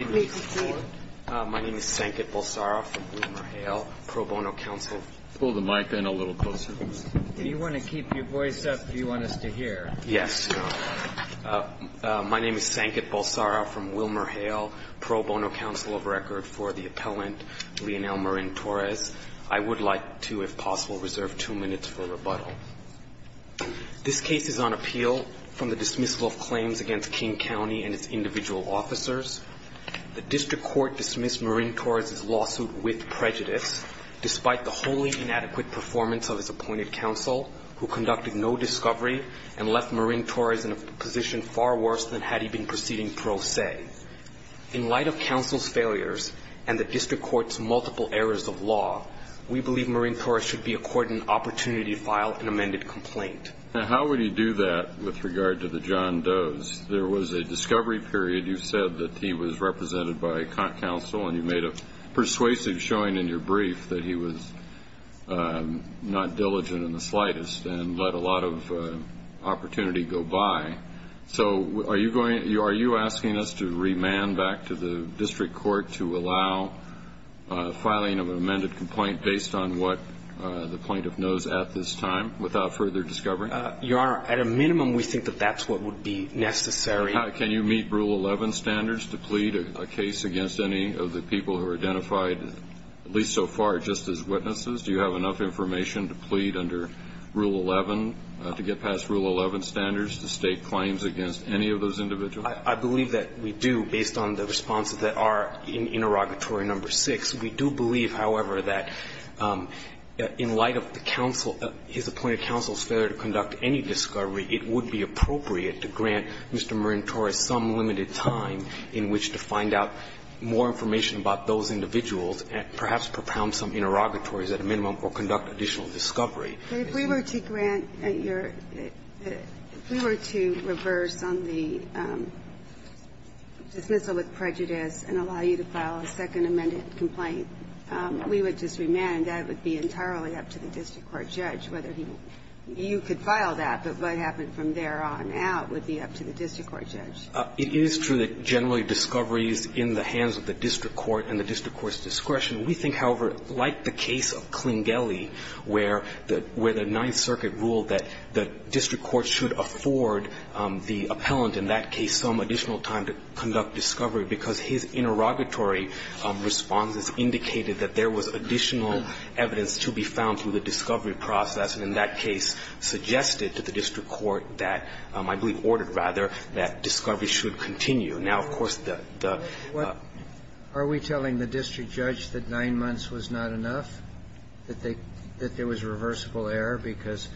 My name is Sanket Bolsara from WilmerHale, Pro Bono Council of Record for the appellant, Leonel Marin-Torres. I would like to, if possible, reserve two minutes for rebuttal. This case is on appeal from the dismissal of claims against King County and its individual officers. The district court dismissed Marin-Torres' lawsuit with prejudice, despite the wholly inadequate performance of his appointed counsel, who conducted no discovery and left Marin-Torres in a position far worse than had he been proceeding pro se. In light of counsel's failures and the district court's multiple errors of law, we believe Marin-Torres should be accorded an opportunity to file an amended complaint. How would he do that with regard to the John Does? There was a discovery period. You said that he was represented by counsel and you made a persuasive showing in your brief that he was not diligent in the slightest and let a lot of opportunity go by. So are you asking us to remand back to the district court to allow filing of an amended complaint based on what the plaintiff knows at this time without further discovery? Your Honor, at a minimum, we think that that's what would be necessary. Can you meet Rule 11 standards to plead a case against any of the people who are identified, at least so far, just as witnesses? Do you have enough information to plead under Rule 11, to get past Rule 11 standards to stake claims against any of those individuals? I believe that we do, based on the responses that are in interrogatory number 6. We do believe, however, that in light of the counsel, his appointed counsel's failure to conduct any discovery, it would be appropriate to grant Mr. Marin-Torres some limited time in which to find out more information about those individuals and perhaps propound some interrogatories at a minimum or conduct additional discovery. If we were to grant your – if we were to reverse on the dismissal with prejudice and allow you to file a second amended complaint, we would just remand. That would be entirely up to the district court judge whether he – you could file that, but what happened from there on out would be up to the district court judge. It is true that generally discovery is in the hands of the district court and the district court's discretion. We think, however, like the case of Klingeli, where the – where the Ninth Circuit ruled that the district court should afford the appellant in that case some additional time to conduct discovery, because his interrogatory responses indicated that there was additional evidence to be found through the discovery process, and in that case suggested to the district court that – I believe ordered, rather, that discovery should continue. Now, of course, the – the – Are we telling the district judge that nine months was not enough, that they – that there was reversible error because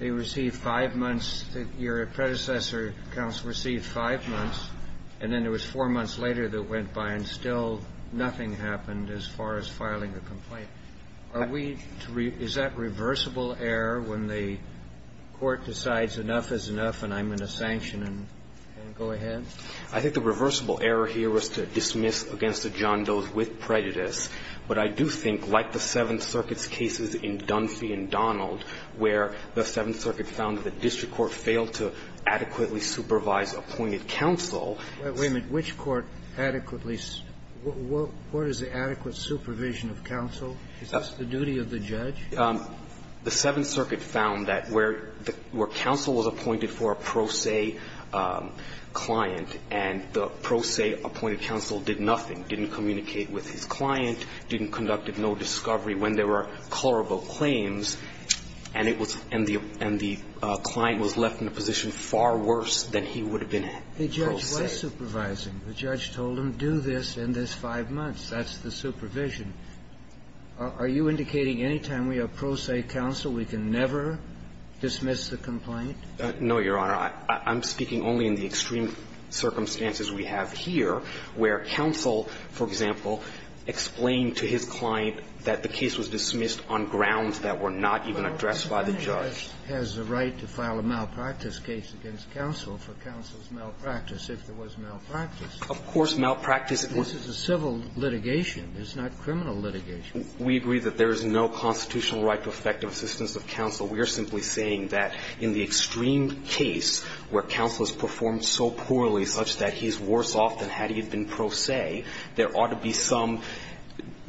they received five months – your predecessor counts received five months, and then it was four months later that went by and still nothing happened as far as filing the complaint? Are we – is that reversible error when the court decides enough is enough and I'm in a sanction and go ahead? I think the reversible error here was to dismiss against the John Does with prejudice. But I do think, like the Seventh Circuit's cases in Dunphy and Donald, where the district court adequately supervised appointed counsel – Wait a minute. Which court adequately – what is the adequate supervision of counsel? Is this the duty of the judge? The Seventh Circuit found that where the – where counsel was appointed for a pro se client, and the pro se appointed counsel did nothing, didn't communicate with his client, didn't conduct no discovery when there were colorable claims, and it was – and the – and the client was left in a position far worse than he would have been pro se. The judge was supervising. The judge told him, do this in this five months. That's the supervision. Are you indicating any time we have pro se counsel, we can never dismiss the complaint? No, Your Honor. I'm speaking only in the extreme circumstances we have here, where counsel, for example, explained to his client that the case was dismissed on grounds that were not even addressed by the judge. But all of this has the right to file a malpractice case against counsel for counsel's malpractice, if there was malpractice. Of course, malpractice – This is a civil litigation. It's not criminal litigation. We agree that there is no constitutional right to effective assistance of counsel. We are simply saying that in the extreme case where counsel is performed so poorly such that he's worse off than had he been pro se, there ought to be some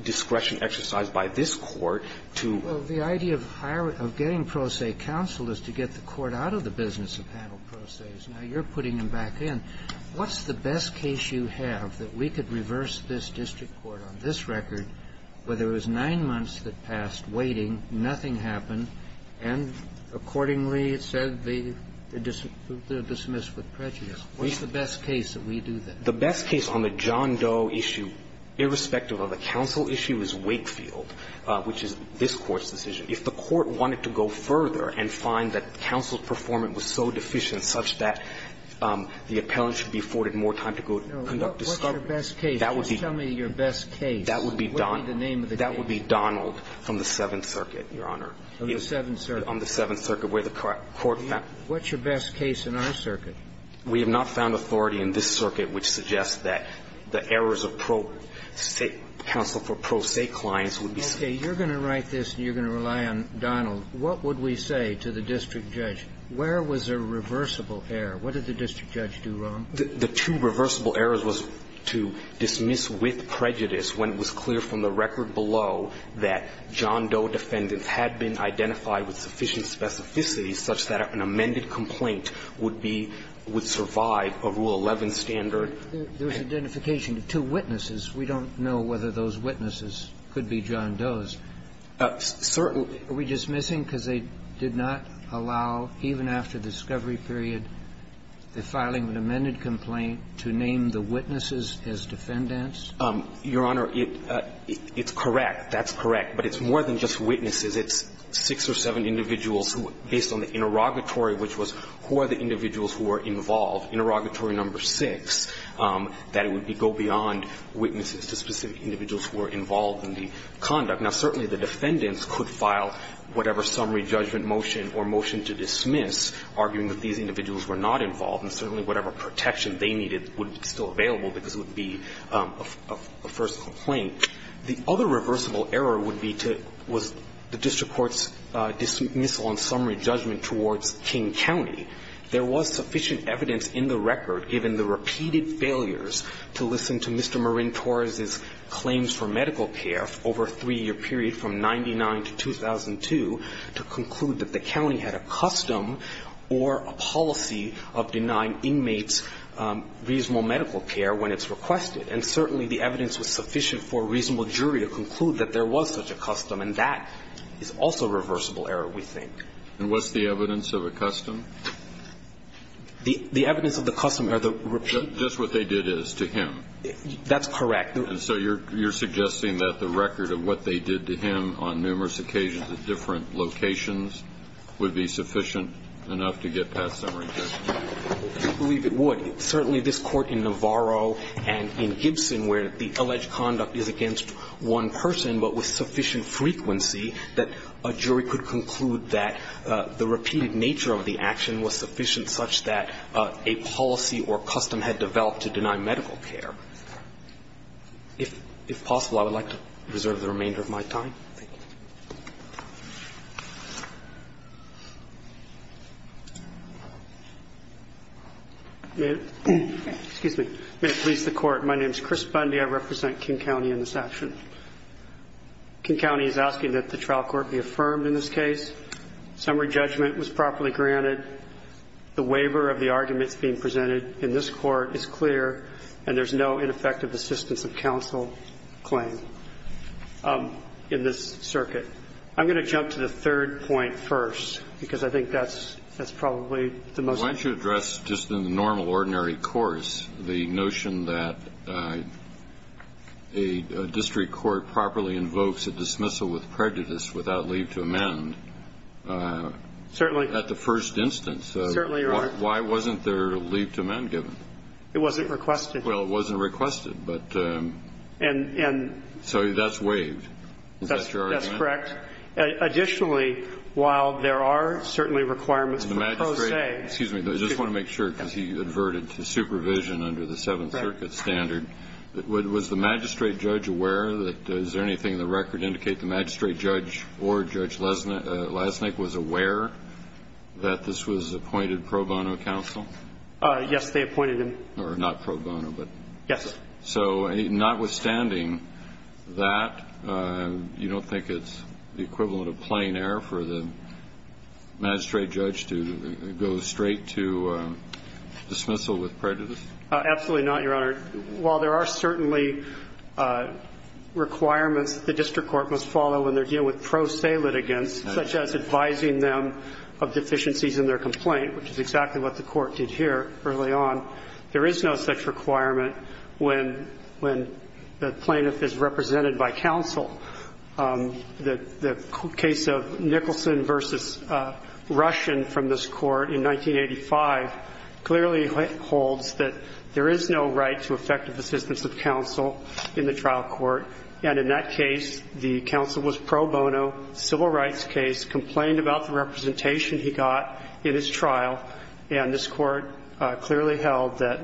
discretion exercised by this Court to – Well, the idea of getting pro se counsel is to get the Court out of the business of panel pro ses. Now, you're putting him back in. What's the best case you have that we could reverse this district court on this record where there was nine months that passed waiting, nothing happened, and accordingly it said the – the dismiss with prejudice? What's the best case that we do that? The best case on the John Doe issue, irrespective of the counsel issue, is Wakefield, which is this Court's decision. If the Court wanted to go further and find that counsel's performance was so deficient such that the appellant should be afforded more time to go conduct discovery, that would be – What's your best case? What would be the name of the case? That would be Donald from the Seventh Circuit, Your Honor. On the Seventh Circuit. On the Seventh Circuit, where the court found – What's your best case in our circuit? We have not found authority in this circuit which suggests that the errors of pro se – counsel for pro se clients would be – Okay. You're going to write this and you're going to rely on Donald. What would we say to the district judge? Where was a reversible error? What did the district judge do wrong? The two reversible errors was to dismiss with prejudice when it was clear from the record below that John Doe defendants had been identified with sufficient specificity such that an amended complaint would be – would survive a Rule 11 standard. There was identification of two witnesses. We don't know whether those witnesses could be John Doe's. Certainly. Are we dismissing because they did not allow, even after the discovery period, the filing of an amended complaint to name the witnesses as defendants? Your Honor, it's correct. That's correct. But it's more than just witnesses. It's six or seven individuals who, based on the interrogatory, which was who are the individuals who were involved, interrogatory number six, that it would be go beyond witnesses to specific individuals who were involved in the conduct. Now, certainly the defendants could file whatever summary judgment motion or motion to dismiss, arguing that these individuals were not involved, and certainly whatever protection they needed would be still available because it would be a first complaint. The other reversible error would be to – was the district court's dismissal on summary judgment towards King County. There was sufficient evidence in the record, given the repeated failures to listen to Mr. Marin Torres's claims for medical care over a three-year period from 1999 to 2002, to conclude that the county had a custom or a policy of denying inmates reasonable medical care when it's requested. And certainly the evidence was sufficient for a reasonable jury to conclude that there was such a custom, and that is also reversible error, we think. And what's the evidence of a custom? The evidence of the custom are the repeat – Just what they did is to him. That's correct. And so you're suggesting that the record of what they did to him on numerous occasions at different locations would be sufficient enough to get past summary judgment? I believe it would. Certainly this Court in Navarro and in Gibson, where the alleged conduct is against one person but with sufficient frequency, that a jury could conclude that the repeated nature of the action was sufficient such that a policy or custom had developed to deny medical care. If possible, I would like to reserve the remainder of my time. Thank you. May it please the Court, my name is Chris Bundy, I represent King County in this action. King County is asking that the trial court be affirmed in this case, summary judgment was properly granted, the waiver of the arguments being presented in this court is clear, and there's no ineffective assistance of counsel claim in this case. I'm going to jump to the third point first, because I think that's probably the most important. Why don't you address just in the normal, ordinary course, the notion that a district court properly invokes a dismissal with prejudice without leave to amend at the first instance. Why wasn't there a leave to amend given? It wasn't requested. Well, it wasn't requested. So that's waived. Is that your argument? Correct. Additionally, while there are certainly requirements for pro se. Excuse me. I just want to make sure, because he adverted to supervision under the Seventh Circuit standard. Was the magistrate judge aware? Is there anything in the record indicate the magistrate judge or Judge Lesnik was aware that this was appointed pro bono counsel? Yes, they appointed him. Or not pro bono. Yes. So notwithstanding that, you don't think it's the equivalent of plain error for the magistrate judge to go straight to dismissal with prejudice? Absolutely not, Your Honor. While there are certainly requirements that the district court must follow when they're dealing with pro se litigants, such as advising them of deficiencies in their complaint, which is exactly what the court did here early on, there is no such requirement when the plaintiff is represented by counsel. The case of Nicholson v. Russian from this court in 1985 clearly holds that there is no right to effective assistance of counsel in the trial court, and in that case, the counsel was pro bono, civil rights case, complained about the representation he got in his trial. And this court clearly held that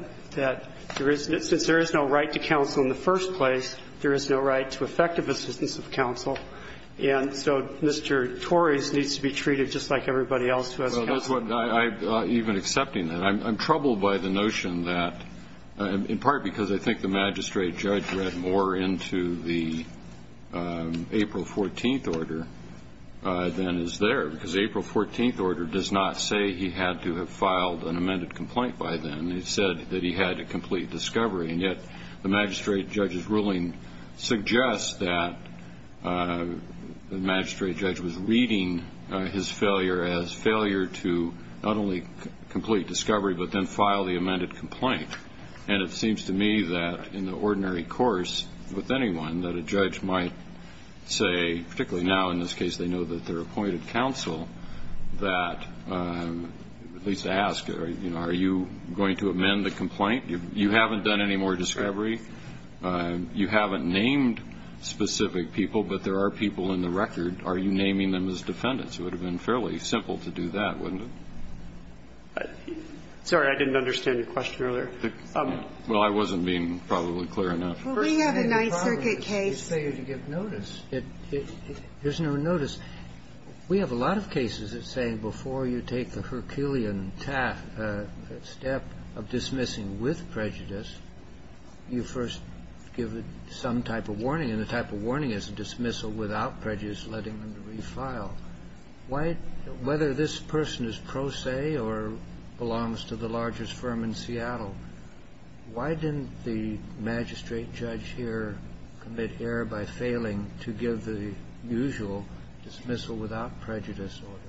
since there is no right to counsel in the first place, there is no right to effective assistance of counsel. And so Mr. Torres needs to be treated just like everybody else who has counsel. Even accepting that, I'm troubled by the notion that, in part because I think the magistrate judge read more into the April 14th order than is there, because the April 14th order does not say he had to have filed an amended complaint by then. It said that he had to complete discovery, and yet the magistrate judge's ruling suggests that the magistrate judge was reading his failure as failure to not only complete discovery but then file the amended complaint. And it seems to me that in the ordinary course with anyone that a judge might say, particularly now in this case, they know that they're appointed counsel, that at least to ask, you know, are you going to amend the complaint? You haven't done any more discovery. You haven't named specific people, but there are people in the record. Are you naming them as defendants? It would have been fairly simple to do that, wouldn't it? I'm sorry. I didn't understand your question earlier. Well, I wasn't being probably clear enough. Well, we have a Ninth Circuit case. It's failure to give notice. There's no notice. We have a lot of cases that say before you take the Herculean step of dismissing with prejudice, you first give some type of warning, and the type of warning is a dismissal without prejudice, letting them to refile. Why? Whether this person is pro se or belongs to the largest firm in Seattle, why didn't the magistrate judge here commit error by failing to give the usual dismissal without prejudice order?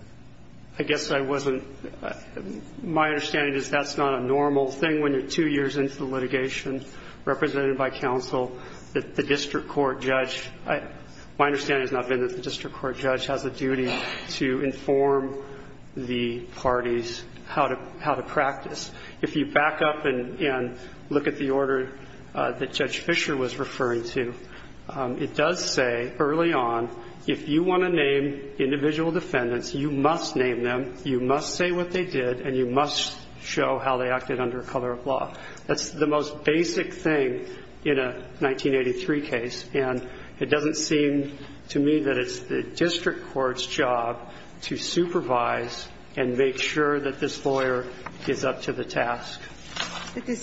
I guess I wasn't – my understanding is that's not a normal thing when you're two years into the litigation, represented by counsel, that the district court judge – my understanding has not been that the district court judge has a duty to inform the parties how to practice. If you back up and look at the order that Judge Fisher was referring to, it does say early on if you want to name individual defendants, you must name them, you must say what they did, and you must show how they acted under color of law. That's the most basic thing in a 1983 case, and it doesn't seem to me that it's the district court's job to supervise and make sure that this lawyer is up to the task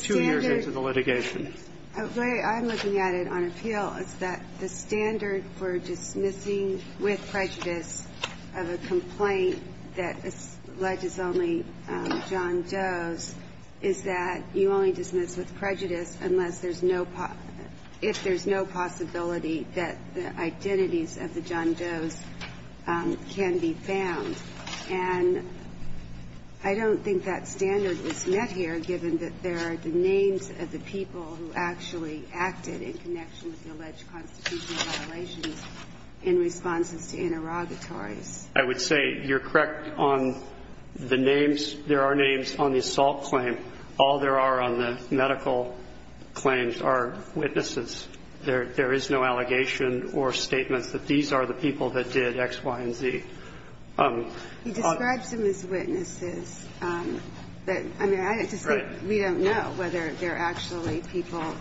two years into the litigation. But the standard – the way I'm looking at it on appeal is that the standard for dismissing with prejudice of a complaint that alleges only John Doe's is that you only dismiss with prejudice unless there's no – if there's no possibility that the identities of the John Doe's can be found. And I don't think that standard is met here, given that there are the names of the people who actually acted in connection with the alleged constitutional violations in responses to interrogatories. I would say you're correct on the names. There are names on the assault claim. All there are on the medical claims are witnesses. There is no allegation or statements that these are the people that did X, Y, and Z. He describes them as witnesses. But, I mean, I just think we don't know whether they're actually people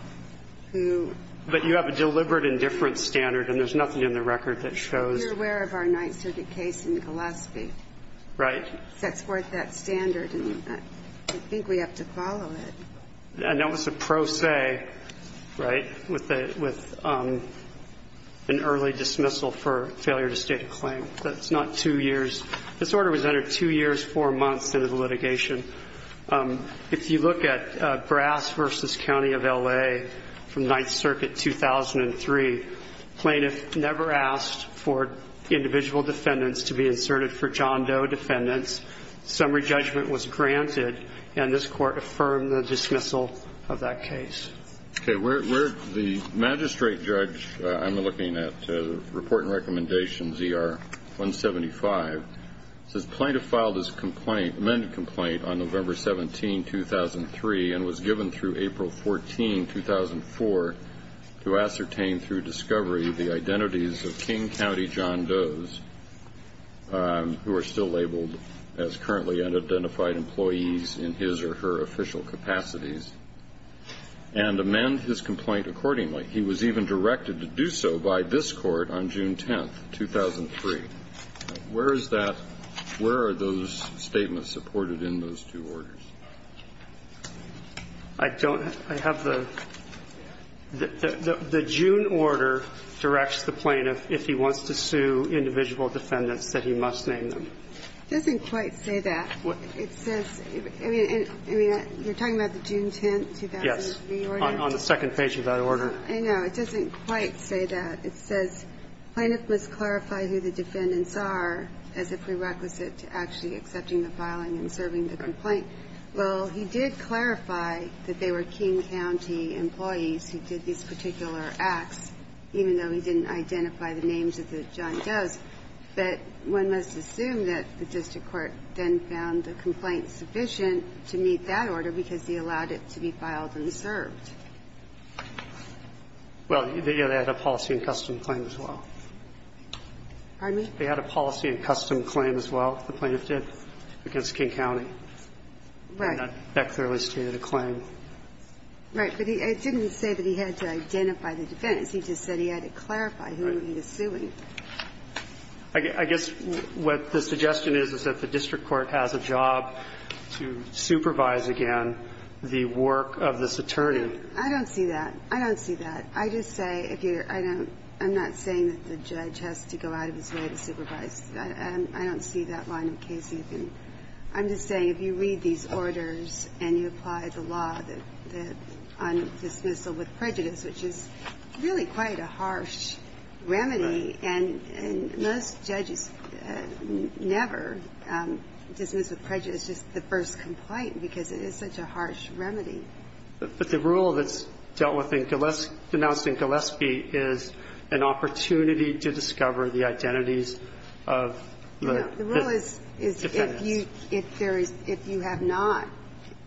who – But you have a deliberate and different standard, and there's nothing in the record that shows – You're aware of our Ninth Circuit case in Gillespie. Right. It sets forth that standard, and I think we have to follow it. And that was a pro se, right, with an early dismissal for failure to state a claim. That's not two years. This order was entered two years, four months into the litigation. If you look at Brass v. County of L.A. from Ninth Circuit 2003, plaintiffs never asked for individual defendants to be inserted for John Doe defendants. Summary judgment was granted, and this Court affirmed the dismissal of that case. The magistrate judge I'm looking at, report and recommendation ZR-175, says plaintiff filed his amended complaint on November 17, 2003, and was given through April 14, 2004 to ascertain through discovery the identities of King County John Does, who are still labeled as currently unidentified employees in his or her official capacities, and amend his complaint accordingly. He was even directed to do so by this Court on June 10, 2003. Where is that – where are those statements supported in those two orders? I don't – I have the – the June order directs the plaintiff, if he wants to sue individual defendants, that he must name them. It doesn't quite say that. It says – I mean, you're talking about the June 10, 2003 order? Yes, on the second page of that order. I know. It doesn't quite say that. It says plaintiff must clarify who the defendants are as a prerequisite to actually accepting the filing and serving the complaint. Well, he did clarify that they were King County employees who did these particular acts, even though he didn't identify the names of the John Does. But one must assume that the district court then found the complaint sufficient to meet that order because he allowed it to be filed and served. Well, they had a policy and custom claim as well. Pardon me? They had a policy and custom claim as well, the plaintiff did, against King County. Right. That clearly stated a claim. Right. But it didn't say that he had to identify the defendants. He just said he had to clarify who he was suing. Right. I guess what the suggestion is is that the district court has a job to supervise, again, the work of this attorney. I don't see that. I don't see that. I just say, I'm not saying that the judge has to go out of his way to supervise. I don't see that line of case even. I'm just saying if you read these orders and you apply the law on dismissal with prejudice, which is really quite a harsh remedy, and most judges never dismiss with prejudice just the first complaint because it is such a harsh remedy. But the rule that's dealt with in Gillespie, denounced in Gillespie, is an opportunity to discover the identities of the defendants. No. The rule is if you have not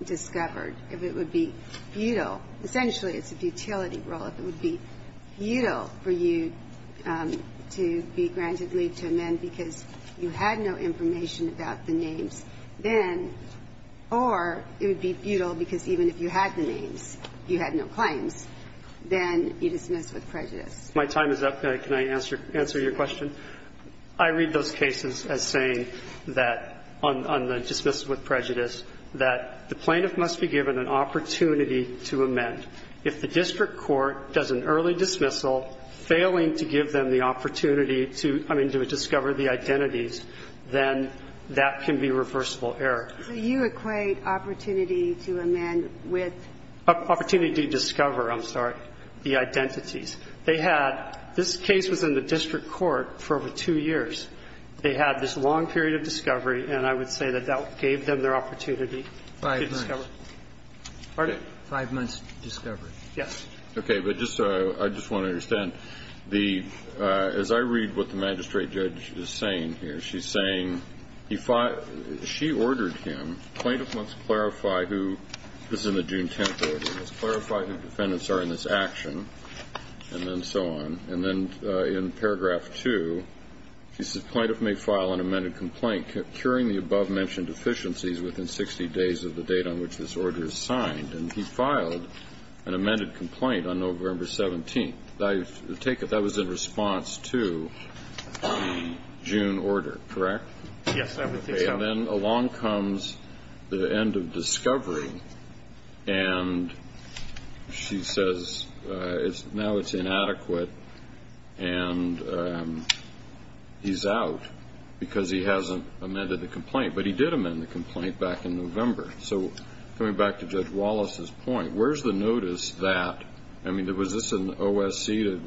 discovered, if it would be futile. Essentially, it's a futility rule. If it would be futile for you to be granted leave to amend because you had no information about the names, then, or it would be futile because even if you had the names, you had no claims, then you dismiss with prejudice. My time is up. Can I answer your question? I read those cases as saying that on the dismissal with prejudice that the plaintiff must be given an opportunity to amend. If the district court does an early dismissal, failing to give them the opportunity to, I mean, to discover the identities, then that can be reversible error. So you equate opportunity to amend with? Opportunity to discover, I'm sorry, the identities. They had, this case was in the district court for over two years. They had this long period of discovery, and I would say that that gave them their opportunity to discover. Five months. Pardon? Five months' discovery. Yes. Okay, but just so I just want to understand, the, as I read what the magistrate judge is saying here, she's saying, she ordered him, plaintiff must clarify who, this is in the June 10th order, must clarify who the defendants are in this action, and then so on. And then in paragraph two, she says, plaintiff may file an amended complaint curing the above-mentioned deficiencies within 60 days of the date on which this order is signed. And he filed an amended complaint on November 17th. I take it that was in response to the June order, correct? Yes, I would think so. Okay, and then along comes the end of discovery, and she says, now it's inadequate, and he's out because he hasn't amended the complaint. But he did amend the complaint back in November. So coming back to Judge Wallace's point, where's the notice that, I mean, was this an OSC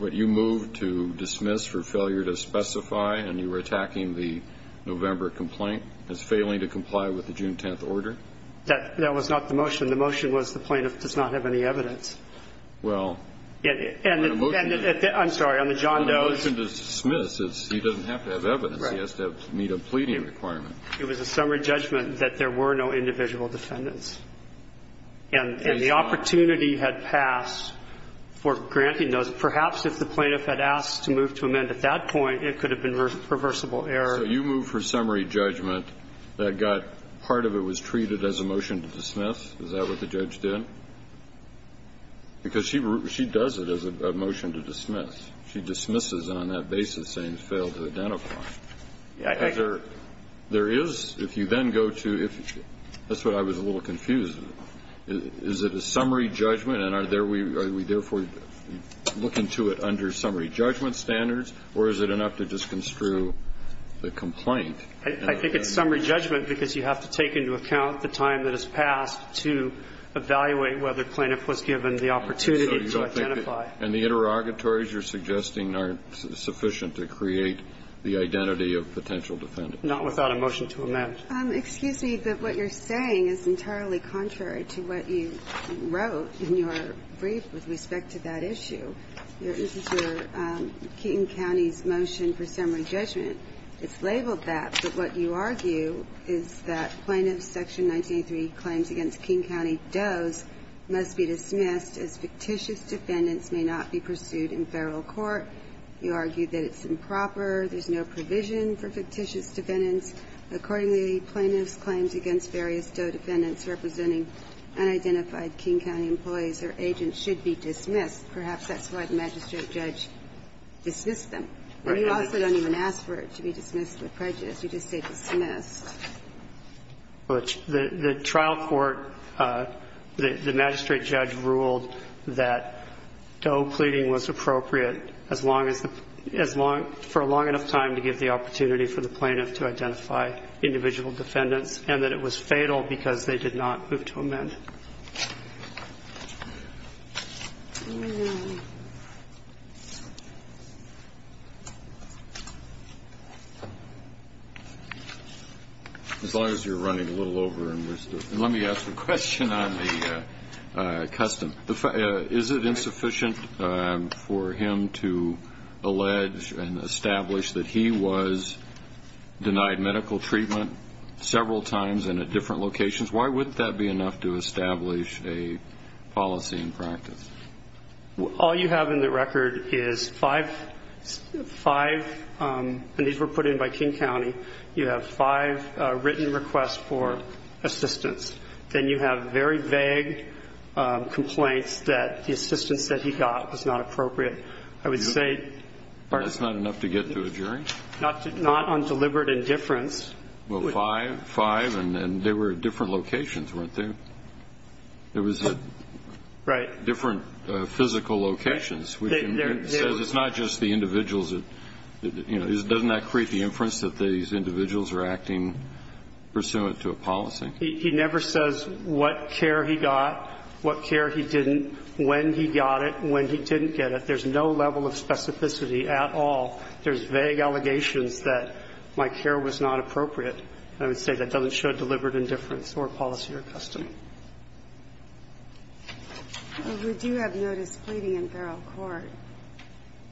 that you moved to dismiss for failure to specify, and you were attacking the November complaint as failing to comply with the June 10th order? That was not the motion. The motion was the plaintiff does not have any evidence. Well. And the motion. I'm sorry, on the John Doe. Well, the motion to dismiss is he doesn't have to have evidence. Right. He has to meet a pleading requirement. It was a summary judgment that there were no individual defendants. And the opportunity had passed for granting those. Perhaps if the plaintiff had asked to move to amend at that point, it could have been reversible error. So you moved for summary judgment that got part of it was treated as a motion to dismiss? Is that what the judge did? Because she does it as a motion to dismiss. She dismisses it on that basis saying it failed to identify. There is, if you then go to, that's what I was a little confused about. Is it a summary judgment, and are we therefore looking to it under summary judgment standards, or is it enough to just construe the complaint? I think it's summary judgment because you have to take into account the time that has passed to evaluate whether the plaintiff was given the opportunity to identify. And the interrogatories you're suggesting are sufficient to create the identity of potential defendants. Not without a motion to amend. Excuse me, but what you're saying is entirely contrary to what you wrote in your brief with respect to that issue. This is your King County's motion for summary judgment. It's labeled that. But what you argue is that plaintiff's section 1983 claims against King County Doe's must be dismissed as fictitious defendants may not be pursued in federal court. You argue that it's improper, there's no provision for fictitious defendants. Accordingly, plaintiff's claims against various Doe defendants representing unidentified King County employees or agents should be dismissed. Perhaps that's why the magistrate judge dismissed them. You also don't even ask for it to be dismissed with prejudice. You just say dismissed. The trial court, the magistrate judge ruled that Doe pleading was appropriate for a long enough time to give the opportunity for the plaintiff to identify individual defendants and that it was fatal because they did not move to amend. As long as you're running a little over. Let me ask a question on the custom. Is it insufficient for him to allege and establish that he was denied medical treatment several times and at different locations? Why wouldn't that be enough to establish a policy in practice? All you have in the record is five and these were put in by King County. You have five written requests for assistance. Then you have very vague complaints that the assistance that he got was not appropriate. I would say. That's not enough to get to a jury? Not on deliberate indifference. Well, five and they were at different locations, weren't they? It was at different physical locations. It says it's not just the individuals. Doesn't that create the inference that these individuals are acting pursuant to a policy? He never says what care he got, what care he didn't, when he got it, when he didn't get it. There's no level of specificity at all. There's vague allegations that my care was not appropriate. I would say that doesn't show deliberate indifference or policy or custom. Well, we do have notice pleading in Beryl Court.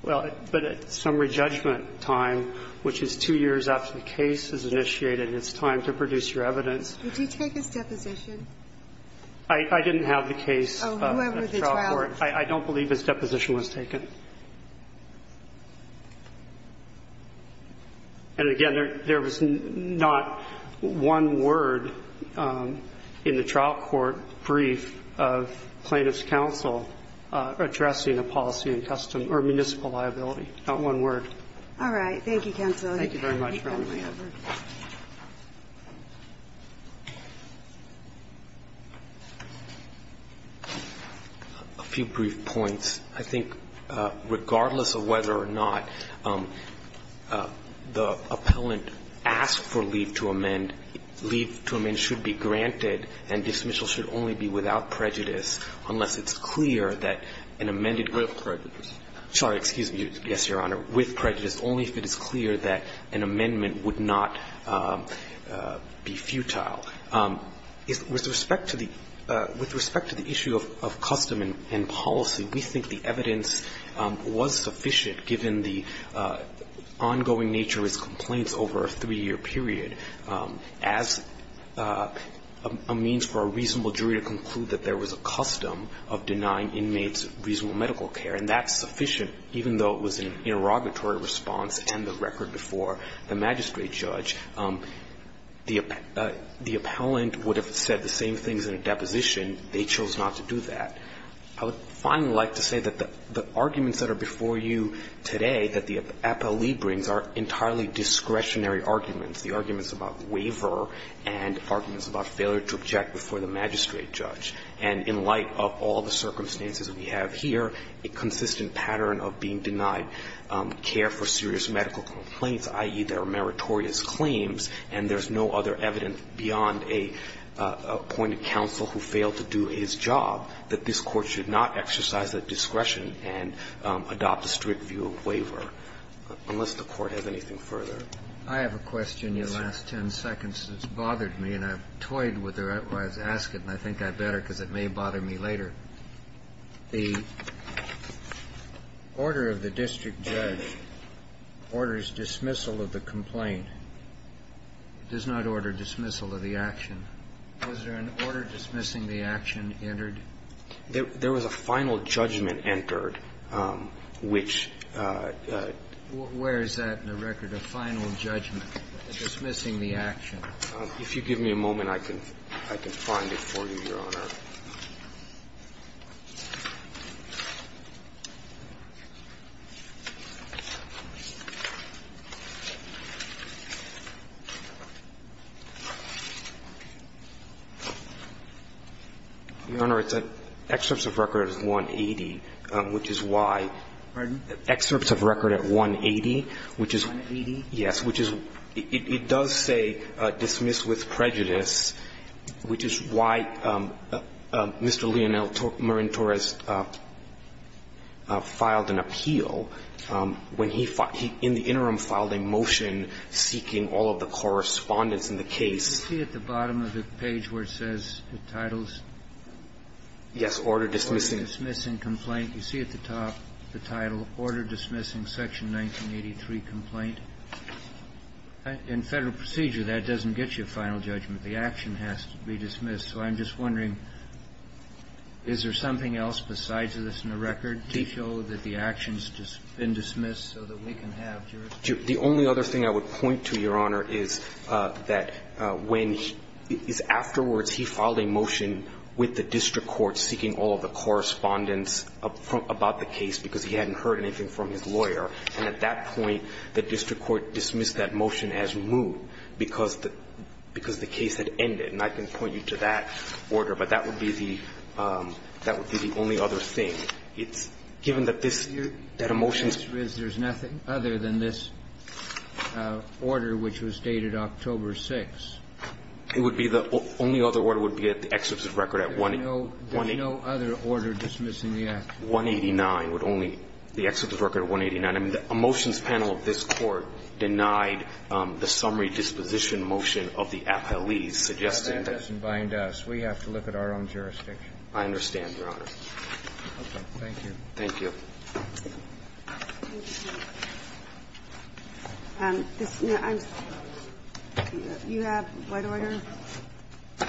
Well, but at summary judgment time, which is two years after the case is initiated, it's time to produce your evidence. Would you take his deposition? I didn't have the case at the trial court. I don't believe his deposition was taken. And, again, there was not one word in the trial court brief of plaintiff's counsel addressing a policy and custom or municipal liability. Not one word. All right. Thank you, counsel. Thank you very much, Your Honor. A few brief points. I think regardless of whether or not the appellant asked for leave to amend, leave to amend should be granted, and dismissal should only be without prejudice unless it's clear that an amended group prejudice. Sorry, excuse me. Yes, Your Honor. With prejudice, only if it is clear that an amendment would not be futile. With respect to the issue of custom and policy, we think the evidence was sufficient given the ongoing nature of his complaints over a three-year period as a means for a reasonable jury to conclude that there was a custom of denying inmates reasonable medical care. And that's sufficient, even though it was an interrogatory response and the record before the magistrate judge. The appellant would have said the same things in a deposition. They chose not to do that. I would finally like to say that the arguments that are before you today that the appellee brings are entirely discretionary arguments, the arguments about waiver and arguments about failure to object before the magistrate judge. And in light of all the circumstances we have here, a consistent pattern of being denied care for serious medical complaints, i.e., there are meritorious claims and there's no other evidence beyond an appointed counsel who failed to do his job, that this Court should not exercise that discretion and adopt a strict view of waiver, unless the Court has anything further. I have a question. Your last ten seconds has bothered me, and I've toyed with it while I was asking, and I think I better because it may bother me later. The order of the district judge orders dismissal of the complaint. It does not order dismissal of the action. Was there an order dismissing the action entered? There was a final judgment entered, which ---- Where is that in the record, a final judgment dismissing the action? If you give me a moment, I can find it for you, Your Honor. Your Honor, it's an excerpt of record at 180, which is why ---- Pardon? An excerpt of record at 180, which is ---- 180? Yes, which is ---- it does say, which is why Mr. Leonel Marentor has filed an appeal when he in the interim filed a motion seeking all of the correspondence in the case. You see at the bottom of the page where it says the titles? Yes. Order dismissing. Order dismissing complaint. You see at the top the title, Order Dismissing Section 1983 Complaint. In Federal procedure, that doesn't get you a final judgment. The action has to be dismissed. So I'm just wondering, is there something else besides this in the record to show that the action's been dismissed so that we can have jurisdiction? The only other thing I would point to, Your Honor, is that when he ---- afterwards he filed a motion with the district court seeking all of the correspondence about the case because he hadn't heard anything from his lawyer. And at that point, the district court dismissed that motion as moot because the ---- because the case had ended. And I can point you to that order. But that would be the ---- that would be the only other thing. It's ---- given that this ---- that a motion's ---- The answer is there's nothing other than this order, which was dated October 6. It would be the ---- only other order would be at the excerpt of the record at 180 There's no other order dismissing the action. 189 would only ---- the excerpt of the record at 189. I mean, a motions panel of this Court denied the summary disposition motion of the appellees suggesting that ---- That doesn't bind us. We have to look at our own jurisdiction. I understand, Your Honor. Okay. Thank you. Thank you. You have what order? I'm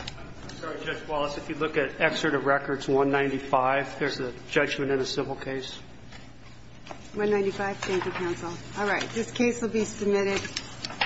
sorry, Judge Wallace. If you look at excerpt of records 195, there's a judgment in a civil case. 195. Thank you, counsel. All right. This case will be submitted.